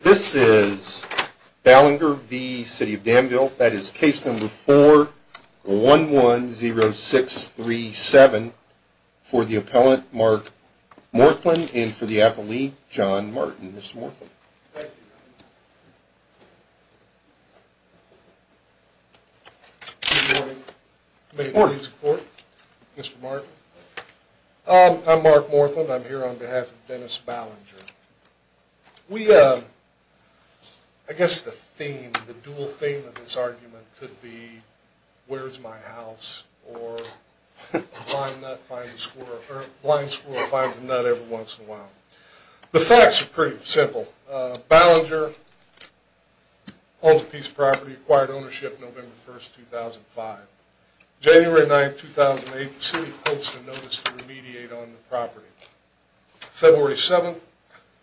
This is Ballinger v. City of Danville. That is case number 4110637 for the appellant, Mark Morthland, and for the appellee, John Martin. Mr. Morthland. Thank you. Good morning. I'm Mark Morthland. I'm here on behalf of Dennis Ballinger. We, uh, I guess the theme, the dual theme of this argument could be, where's my house, or a blind nut finds a squirrel, or a blind squirrel finds a nut every once in a while. The facts are pretty simple. Ballinger holds a piece of property, acquired ownership November 1st, 2005. January 9th, 2008, the city posts a notice to remediate on the property. February 7th,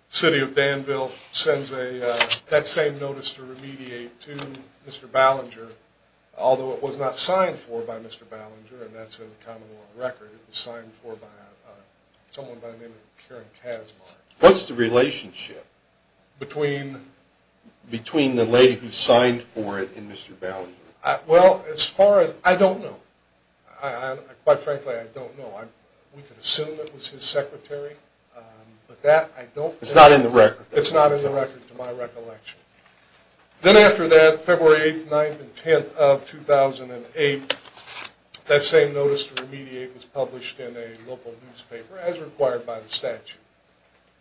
City of Danville sends a, uh, that same notice to remediate to Mr. Ballinger, although it was not signed for by Mr. Ballinger, and that's in the common law record. It was signed for by, uh, someone by the name of Karen Kazmaier. What's the relationship between, between the lady who signed for it and Mr. Ballinger? Well, as far as, I don't know. I, I, quite frankly, I don't know. I, we could assume it was his secretary, um, but that I don't know. It's not in the record. It's not in the record, to my recollection. Then after that, February 8th, 9th, and 10th of 2008, that same notice to remediate was published in a local newspaper, as required by the statute.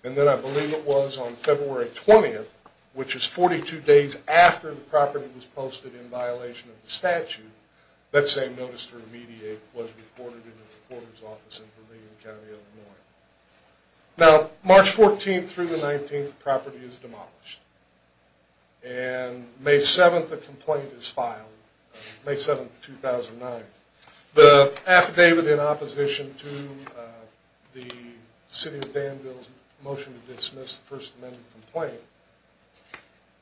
And then I believe it was on February 20th, which is 42 days after the property was posted in violation of the statute, that same notice to remediate was reported in the reporter's office in Berlin County, Illinois. Now, March 14th through the 19th, the property is demolished. And May 7th, a complaint is filed. May 7th, 2009. The affidavit in opposition to, uh, the City of Danville's motion to dismiss the First Amendment complaint.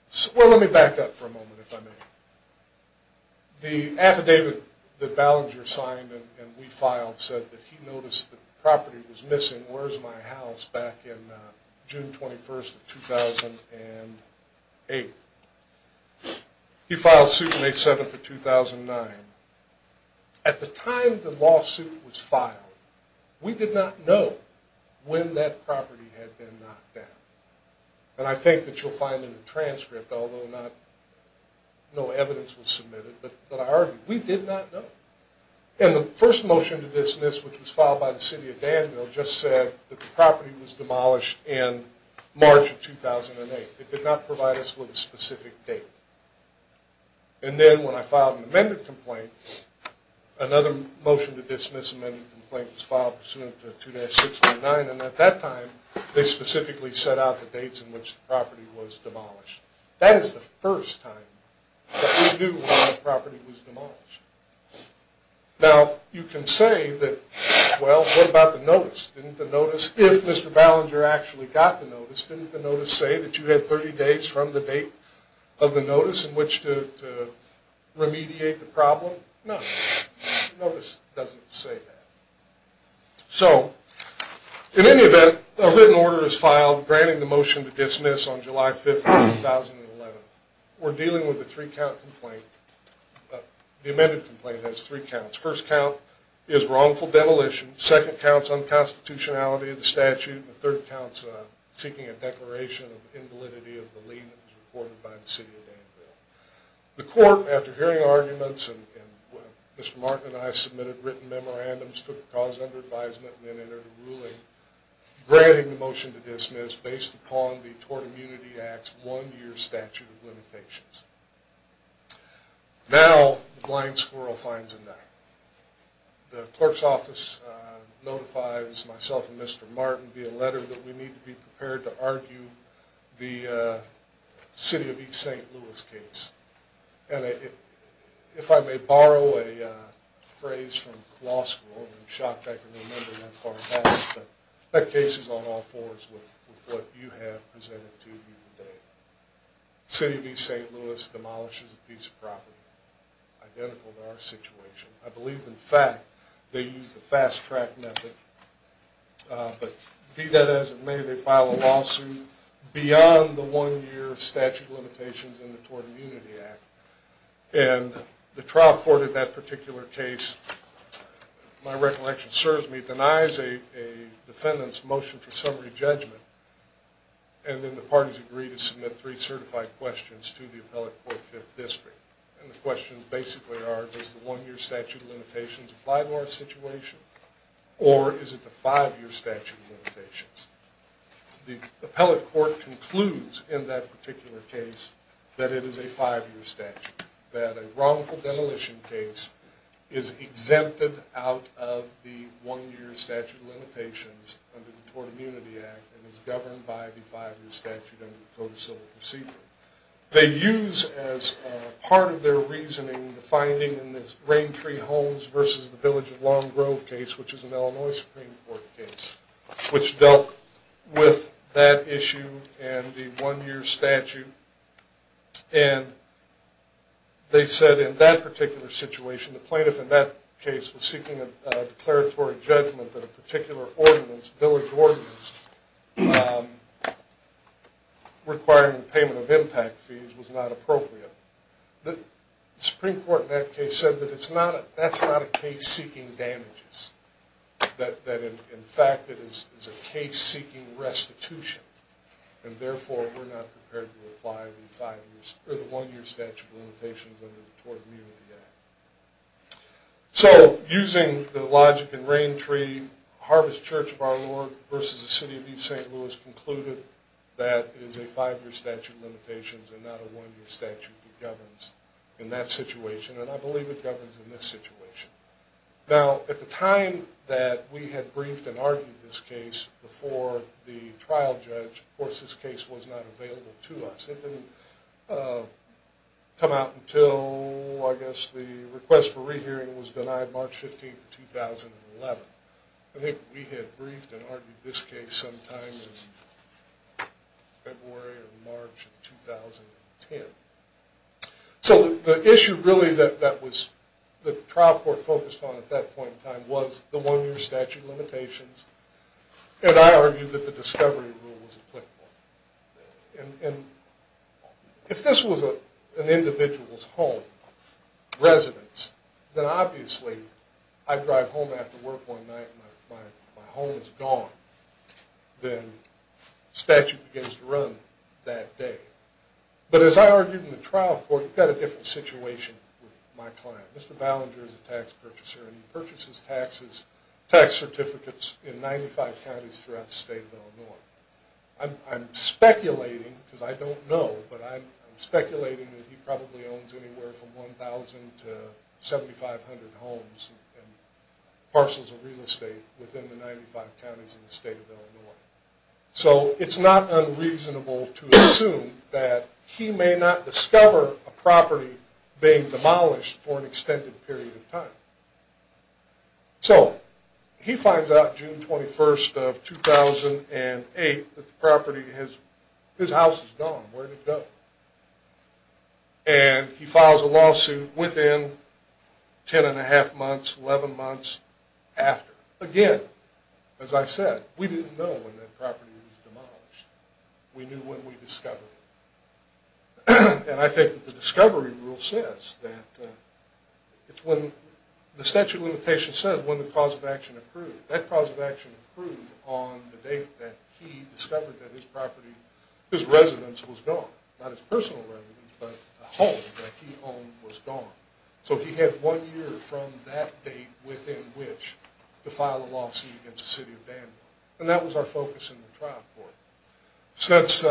So, well, let me back up for a moment, if I may. The affidavit that Ballinger signed and, and we filed said that he noticed that the property was missing, where's my house, back in, uh, June 21st of 2008. He filed suit May 7th of 2009. At the time the lawsuit was filed, we did not know when that property had been knocked down. And I think that you'll find in the transcript, although not, no evidence was submitted, but, but I argue, we did not know. And the first motion to dismiss, which was filed by the City of Danville, just said that the property was demolished in March of 2008. It did not provide us with a specific date. And then, when I filed an amendment complaint, another motion to dismiss an amendment complaint was filed pursuant to 2-6.9. And at that time, they specifically set out the dates in which the property was demolished. That is the first time that we knew when a property was demolished. Now, you can say that, well, what about the notice, didn't the notice, if Mr. Ballinger actually got the notice, didn't the notice say that you had 30 days from the date of the notice in which to, to remediate the problem? No, the notice doesn't say that. So, in any event, a written order is filed granting the motion to dismiss on July 5th, 2011. We're dealing with a three-count complaint. The amended complaint has three counts. First count is wrongful demolition, second count is unconstitutionality of the statute, and the third count is seeking a declaration of invalidity of the lien that was reported by the city of Danville. The court, after hearing arguments, and Mr. Martin and I submitted written memorandums, took the cause under advisement, and then entered a ruling granting the motion to dismiss based upon the Tort Immunity Act's one-year statute of limitations. Now, the blind squirrel finds a night. The clerk's office notifies myself and Mr. Martin via letter that we need to be prepared to argue the City of East St. Louis case. And if I may borrow a phrase from law school, I'm shocked I can remember that far back, but that case is on all fours with what you have presented to me today. City of East St. Louis demolishes a piece of property identical to our situation. I believe, in fact, they use the fast-track method. But be that as it may, they file a lawsuit beyond the one-year statute of limitations in the Tort Immunity Act. And the trial court in that particular case, my recollection serves me, denies a defendant's motion for summary judgment, and then the parties agree to submit three certified questions to the appellate court fifth district. And the questions basically are, does the one-year statute of limitations apply to our situation, or is it the five-year statute of limitations? The appellate court concludes in that particular case that it is a five-year statute, that a wrongful demolition case is exempted out of the one-year statute of limitations under the Tort Immunity Act and is governed by the five-year statute under the Code of Civil Procedure. They use as part of their reasoning the finding in this Rain Tree Homes versus the Village of Long Grove case, which is an Illinois Supreme Court case, which dealt with that issue and the one-year statute. And they said in that particular situation, the plaintiff in that case was seeking a declaratory judgment that a particular ordinance, village ordinance, requiring payment of impact fees was not appropriate. The Supreme Court in that case said that that's not a case seeking damages, that in fact it is a case seeking restitution, and therefore we're not prepared to apply the one-year statute of limitations under the Tort Immunity Act. So, using the logic in Rain Tree Harvest Church of Our Lord versus the City of East St. Louis concluded that it is a five-year statute of limitations and not a one-year statute that governs in that situation, and I believe it governs in this situation. Now, at the time that we had briefed and argued this case before the trial judge, of course this case was not available to us. It didn't come out until, I guess, the request for rehearing was denied March 15, 2011. I think we had briefed and argued this case sometime in February or March of 2010. So, the issue really that the trial court focused on at that point in time was the one-year statute of limitations, and I argued that the discovery rule was applicable. And if this was an individual's home, residence, then obviously I drive home after work one night, my home is gone, then statute begins to run that day. But as I argued in the trial court, you've got a different situation with my client. Mr. Ballinger is a tax purchaser, and he purchases tax certificates in 95 counties throughout the state of Illinois. I'm speculating, because I don't know, but I'm speculating that he probably owns anywhere from 1,000 to 7,500 homes and parcels of real estate within the 95 counties in the state of Illinois. So, it's not unreasonable to assume that he may not discover a property being demolished for an extended period of time. So, he finds out June 21st of 2008 that the property, his house is gone, where did it go? And he files a lawsuit within 10 and a half months, 11 months after. Again, as I said, we didn't know when that property was demolished. We knew when we discovered it. And I think that the discovery rule says that it's when the statute of limitations says when the cause of action approved. That cause of action approved on the date that he discovered that his property, his residence was gone. Not his personal residence, but the home that he owned was gone. So, he had one year from that date within which to file a lawsuit against the city of Danville. And that was our focus in the trial court. Since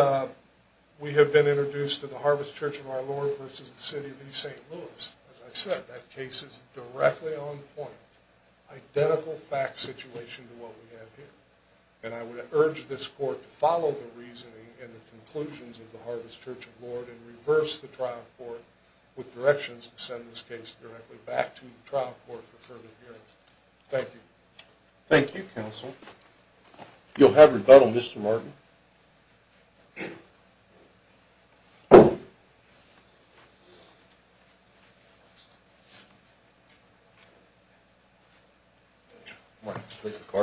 we have been introduced to the Harvest Church of Our Lord versus the city of East St. Louis, as I said, that case is directly on point. Identical fact situation to what we have here. And I would urge this court to follow the reasoning and the conclusions of the Harvest Church of Our Lord and reverse the trial court with directions to send this case directly back to the trial court for further hearing. Thank you. Thank you, counsel. You'll have rebuttal, Mr. Martin.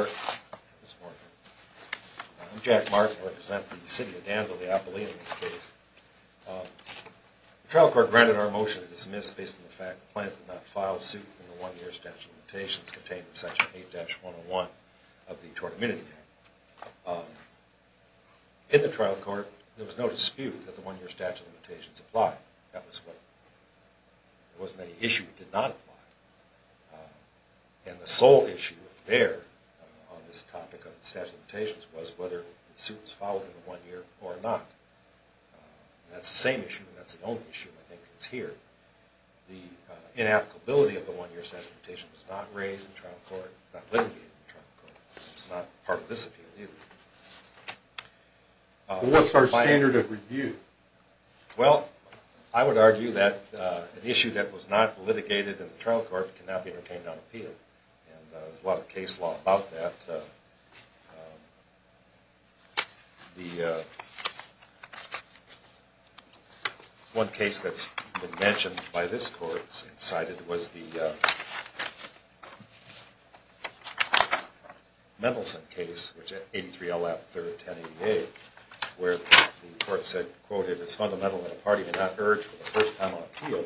I'm Jack Martin. I represent the city of Danville, the Appallee in this case. The trial court granted our motion to dismiss based on the fact that the plaintiff did not file a suit in the one-year statute of limitations contained in Section 8-101 of the Tort Amenity Act. In the trial court, there was no dispute that the one-year statute of limitations applied. That was what, there wasn't any issue that did not apply. And the sole issue there on this topic of the statute of limitations was whether the suit was filed within the one year or not. That's the same issue, and that's the only issue I think that's here. The inapplicability of the one-year statute of limitations was not raised in trial court, not litigated in trial court. It's not part of this appeal either. What's our standard of review? Well, I would argue that an issue that was not litigated in the trial court cannot be retained on appeal. And there's a lot of case law about that. The one case that's been mentioned by this court and cited was the Mendelssohn case, which at 83-LF, third of 10-88, where the court said, quote, it is fundamental that a party may not urge for the first time on appeal,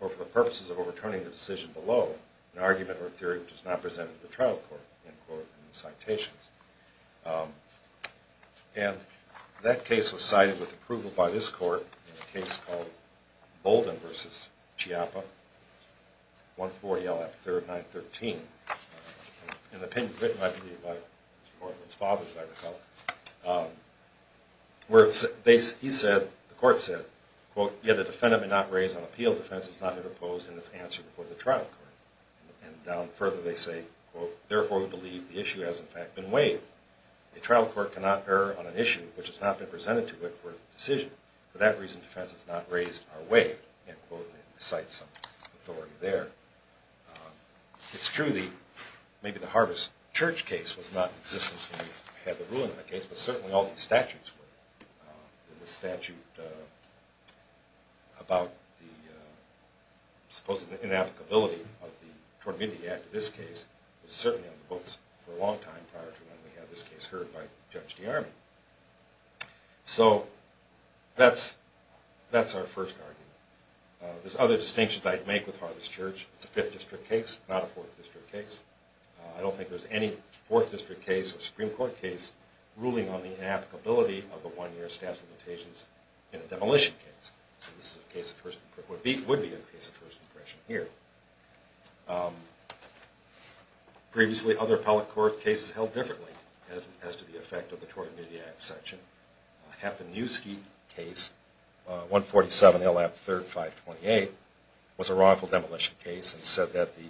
or for the purposes of overturning the decision below, an argument or a theory which is not presented to the trial court. End quote in the citations. And that case was cited with approval by this court in a case called Bolden v. Chiappa, 140-LF, third of 9-13. An opinion written, I believe, by Mr. Baldwin's father, as I recall, where he said, the court said, quote, yet a defendant may not raise on appeal a defense that is not interposed in its answer before the trial court. And down further they say, quote, therefore we believe the issue has, in fact, been waived. A trial court cannot err on an issue which has not been presented to it for a decision. For that reason, defense is not raised or waived. End quote. And I cite some authority there. It's true that maybe the Harvest Church case was not in existence when we had the ruling on the case, but certainly all these statutes were. The statute about the supposed inapplicability of the Tort Amendment Act in this case was certainly on the books for a long time prior to when we had this case heard by Judge DeArmi. So that's our first argument. There's other distinctions I'd make with Harvest Church. It's a 5th district case, not a 4th district case. I don't think there's any 4th district case or Supreme Court case ruling on the inapplicability of the one-year statute of limitations in a demolition case. So this would be a case of first impression here. Previously, other appellate court cases held differently as to the effect of the Tort Amendment Act section. The Haponiewski case, 147 L.F. 3rd 528, was a wrongful demolition case and said that the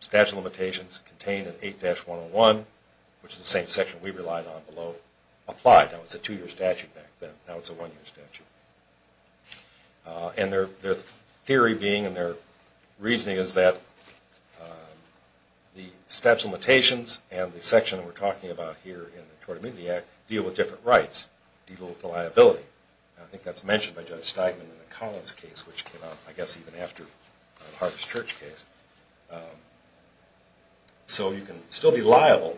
statute of limitations contained in 8-101, which is the same section we relied on below, applied. Now it's a two-year statute back then. Now it's a one-year statute. And their theory being and their reasoning is that the statute of limitations and the section we're talking about here in the Tort Amendment Act deal with different rights, deal with the liability. I think that's mentioned by Judge Steigman in the Collins case, which came out, I guess, even after the Harvest Church case. So you can still be liable,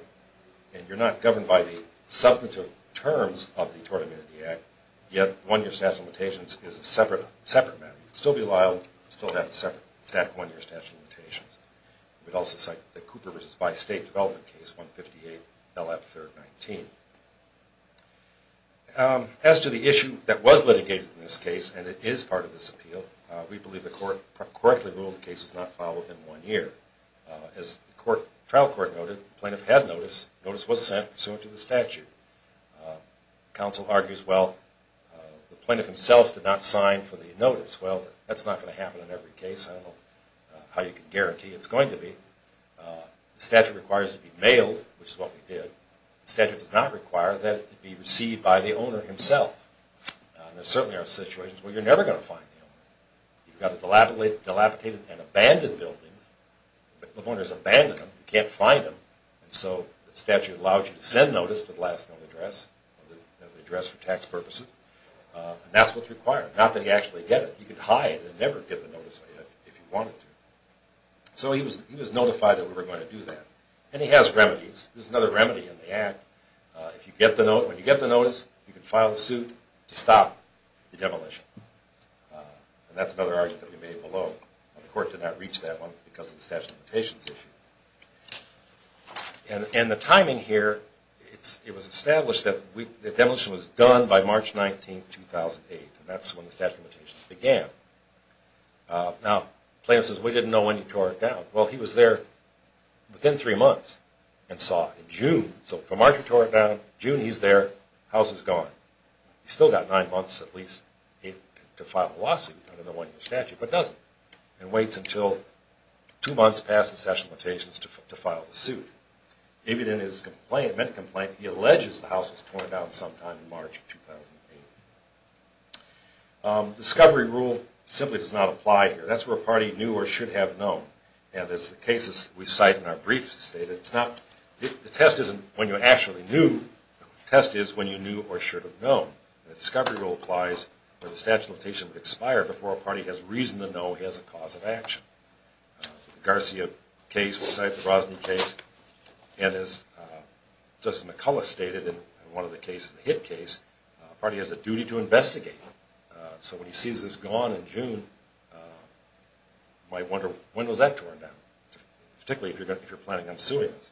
and you're not governed by the substantive terms of the Tort Amendment Act, yet one-year statute of limitations is a separate matter. You can still be liable, still have the separate one-year statute of limitations. We'd also cite the Cooper v. Weiss State development case, 158 L.F. 3rd 19. As to the issue that was litigated in this case, and it is part of this appeal, we believe the court correctly ruled the case was not filed within one year. As the trial court noted, the plaintiff had notice. Notice was sent pursuant to the statute. Counsel argues, well, the plaintiff himself did not sign for the notice. Well, that's not going to happen in every case. I don't know how you can guarantee it's going to be. The statute requires it to be mailed, which is what we did. The statute does not require that it be received by the owner himself. There certainly are situations where you're never going to find the owner. You've got a dilapidated and abandoned building. The owner's abandoned them. You can't find them. So the statute allows you to send notice to the last known address, the address for tax purposes. That's what's required. Not that you actually get it. You can hide and never get the notice if you wanted to. So he was notified that we were going to do that. And he has remedies. There's another remedy in the Act. When you get the notice, you can file a suit to stop the demolition. And that's another argument that we made below. The court did not reach that one because of the statute of limitations issue. And the timing here, it was established that the demolition was done by March 19, 2008. And that's when the statute of limitations began. Now, the plaintiff says, we didn't know when you tore it down. So for March, you tore it down. June, he's there. The house is gone. He's still got nine months at least to file a lawsuit, under the one-year statute, but doesn't. And waits until two months past the statute of limitations to file the suit. Even in his medical complaint, he alleges the house was torn down sometime in March of 2008. The discovery rule simply does not apply here. That's where a party knew or should have known. And as the cases we cite in our briefs state, the test isn't when you actually knew, the test is when you knew or should have known. The discovery rule applies where the statute of limitations would expire before a party has reason to know he has a cause of action. The Garcia case, we cite the Brosny case, and as Justice McCullough stated in one of the cases, the Hitt case, a party has a duty to investigate. So when he sees this gone in June, you might wonder, when was that torn down? Particularly if you're planning on suing us.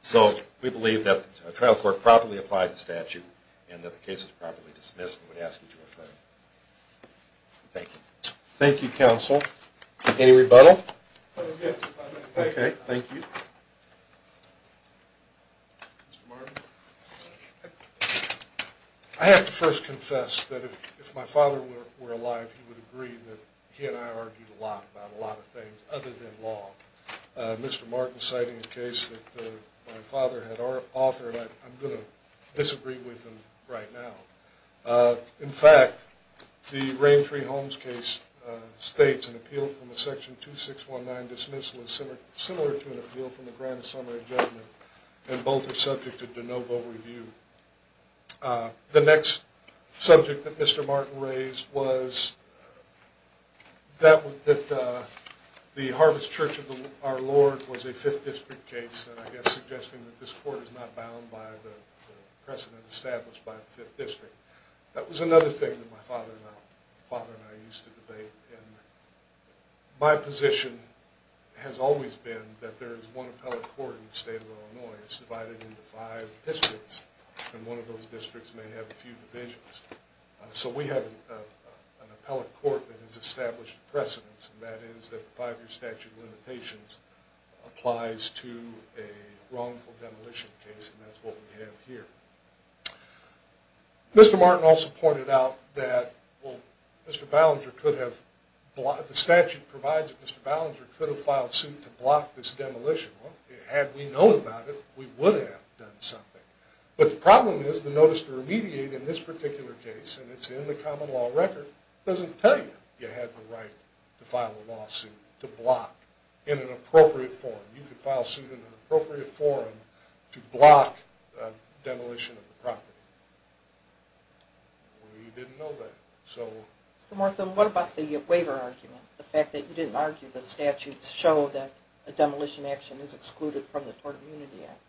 So we believe that the trial court properly applied the statute and that the case was properly dismissed, and we ask that you refer it. Thank you. Thank you, counsel. Any rebuttal? Yes. Thank you. I have to first confess that if my father were alive, he would agree that he and I argued a lot about a lot of things other than law. Mr. Martin citing a case that my father had authored, I'm going to disagree with him right now. In fact, the Rain Tree Homes case states an appeal from the section 2619 dismissal is similar to an appeal from the grant of summary judgment, and both are subject to de novo review. The next subject that Mr. Martin raised was that the Harvest Church of Our Lord was a 5th district case, and I guess suggesting that this court is not bound by the precedent established by the 5th district. That was another thing that my father and I used to debate, and my position has always been that there is one appellate court in the state of Illinois. It's divided into five districts, and one of those districts may have a few divisions. So we have an appellate court that has established precedents, and that is that the 5-year statute of limitations applies to a wrongful demolition case, and that's what we have here. Mr. Martin also pointed out that the statute provides that Mr. Ballinger could have filed suit to block this demolition. Had we known about it, we would have done something. But the problem is, the notice to remediate in this particular case, and it's in the common law record, doesn't tell you you have the right to file a lawsuit to block in an appropriate forum. You could file suit in an appropriate forum to block a demolition of the property. We didn't know that. What about the waiver argument? The fact that you didn't argue the statute showed that a demolition action is excluded from the Tort Immunity Act.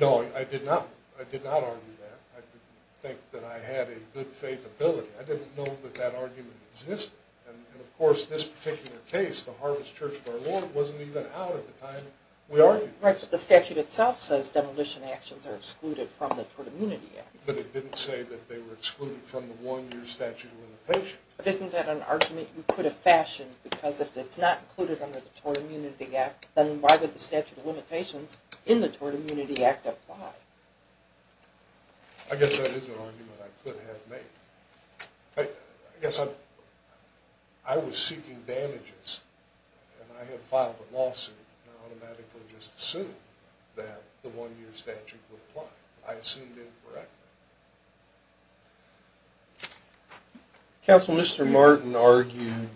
No, I did not argue that. I didn't think that I had a good faith ability. I didn't know that that argument existed. And of course, this particular case, the Harvest Church of Our Lord, wasn't even out at the time we argued it. Right, but the statute itself says demolition actions are excluded from the Tort Immunity Act. But it didn't say that they were excluded from the one-year statute of limitations. But isn't that an argument you could have fashioned? Because if it's not included under the Tort Immunity Act, then why would the statute of limitations in the Tort Immunity Act apply? I guess that is an argument I could have made. I guess I was seeking damages, and I had filed a lawsuit, and I automatically just assumed that the one-year statute would apply. I assumed incorrectly. Counsel, Mr. Martin argued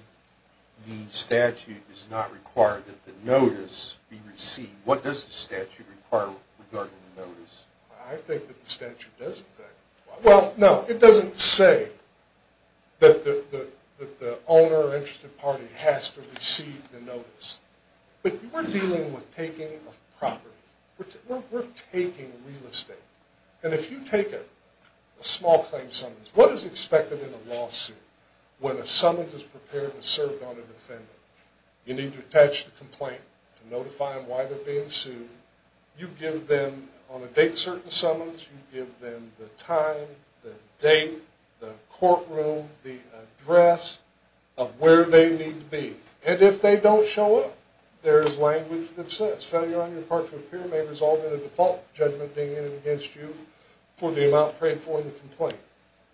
the statute does not require that the notice be received. What does the statute require regarding the notice? I think that the statute does, in fact. Well, no, it doesn't say that the owner or interested party has to receive the notice. But we're dealing with taking of property. We're taking real estate. And if you take a small claim summons, what is expected in a lawsuit when a summons is prepared and served on a defendant? You need to attach the complaint to notify them why they're being sued. You give them, on a date certain summons, you give them the time, the date, the courtroom, the address of where they need to be. And if they don't show up, there's language that says failure on your part to appear may result in a default judgment being made against you for the amount paid for in the complaint.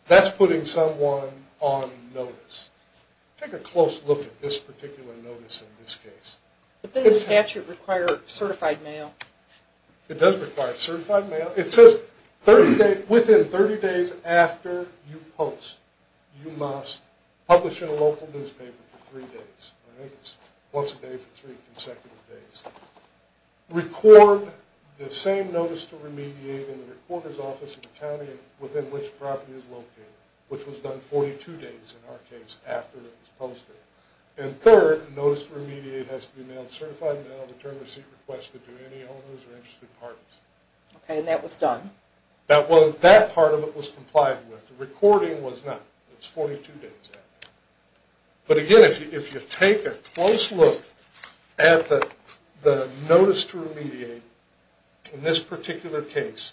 That's putting someone on notice. Take a close look at this particular notice in this case. But doesn't the statute require certified mail? It does require certified mail. It says within 30 days after you post, you must publish in a local newspaper for three days. Once a day for three consecutive days. Record the same notice to remediate in the recorder's office in the county within which the property is located, which was done 42 days in our case after it was posted. And third, notice to remediate has to be mailed certified mail, return receipt requested to any owners or interested parties. And that was done? That part of it was complied with. The recording was not. It was 42 days after. But again, if you take a close look at the notice to remediate in this particular case,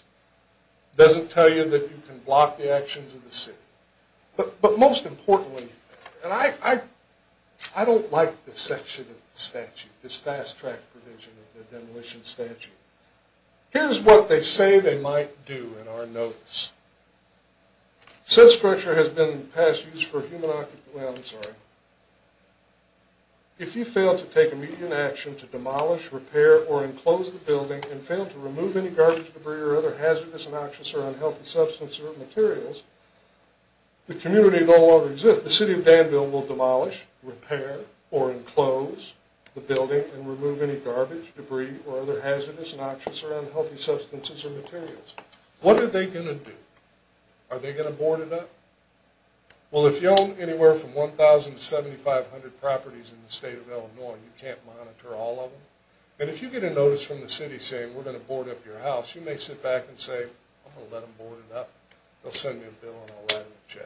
it doesn't tell you that you can block the actions of the city. But most importantly, I don't like this section of the statute, this fast track provision of the demolition statute. Here's what they say they might do in our notice. Since pressure has been in the past used for human occupancy, if you fail to take immediate action to demolish, repair, or enclose the building and fail to remove any garbage, debris, or other hazardous, noxious, or unhealthy substances or materials, the community no longer exists. The city of Danville will demolish, repair, or enclose the building and remove any garbage, debris, or other hazardous, noxious, or unhealthy substances or materials. What are they going to do? Are they going to board it up? Well, if you own anywhere from 1,000 to 7,500 properties in the state of Illinois and you can't monitor all of them, and if you get a notice from the city saying, we're going to board up your house, you may sit back and say, I'm going to let them board it up. They'll send me a bill and I'll write it in the check. Thank you.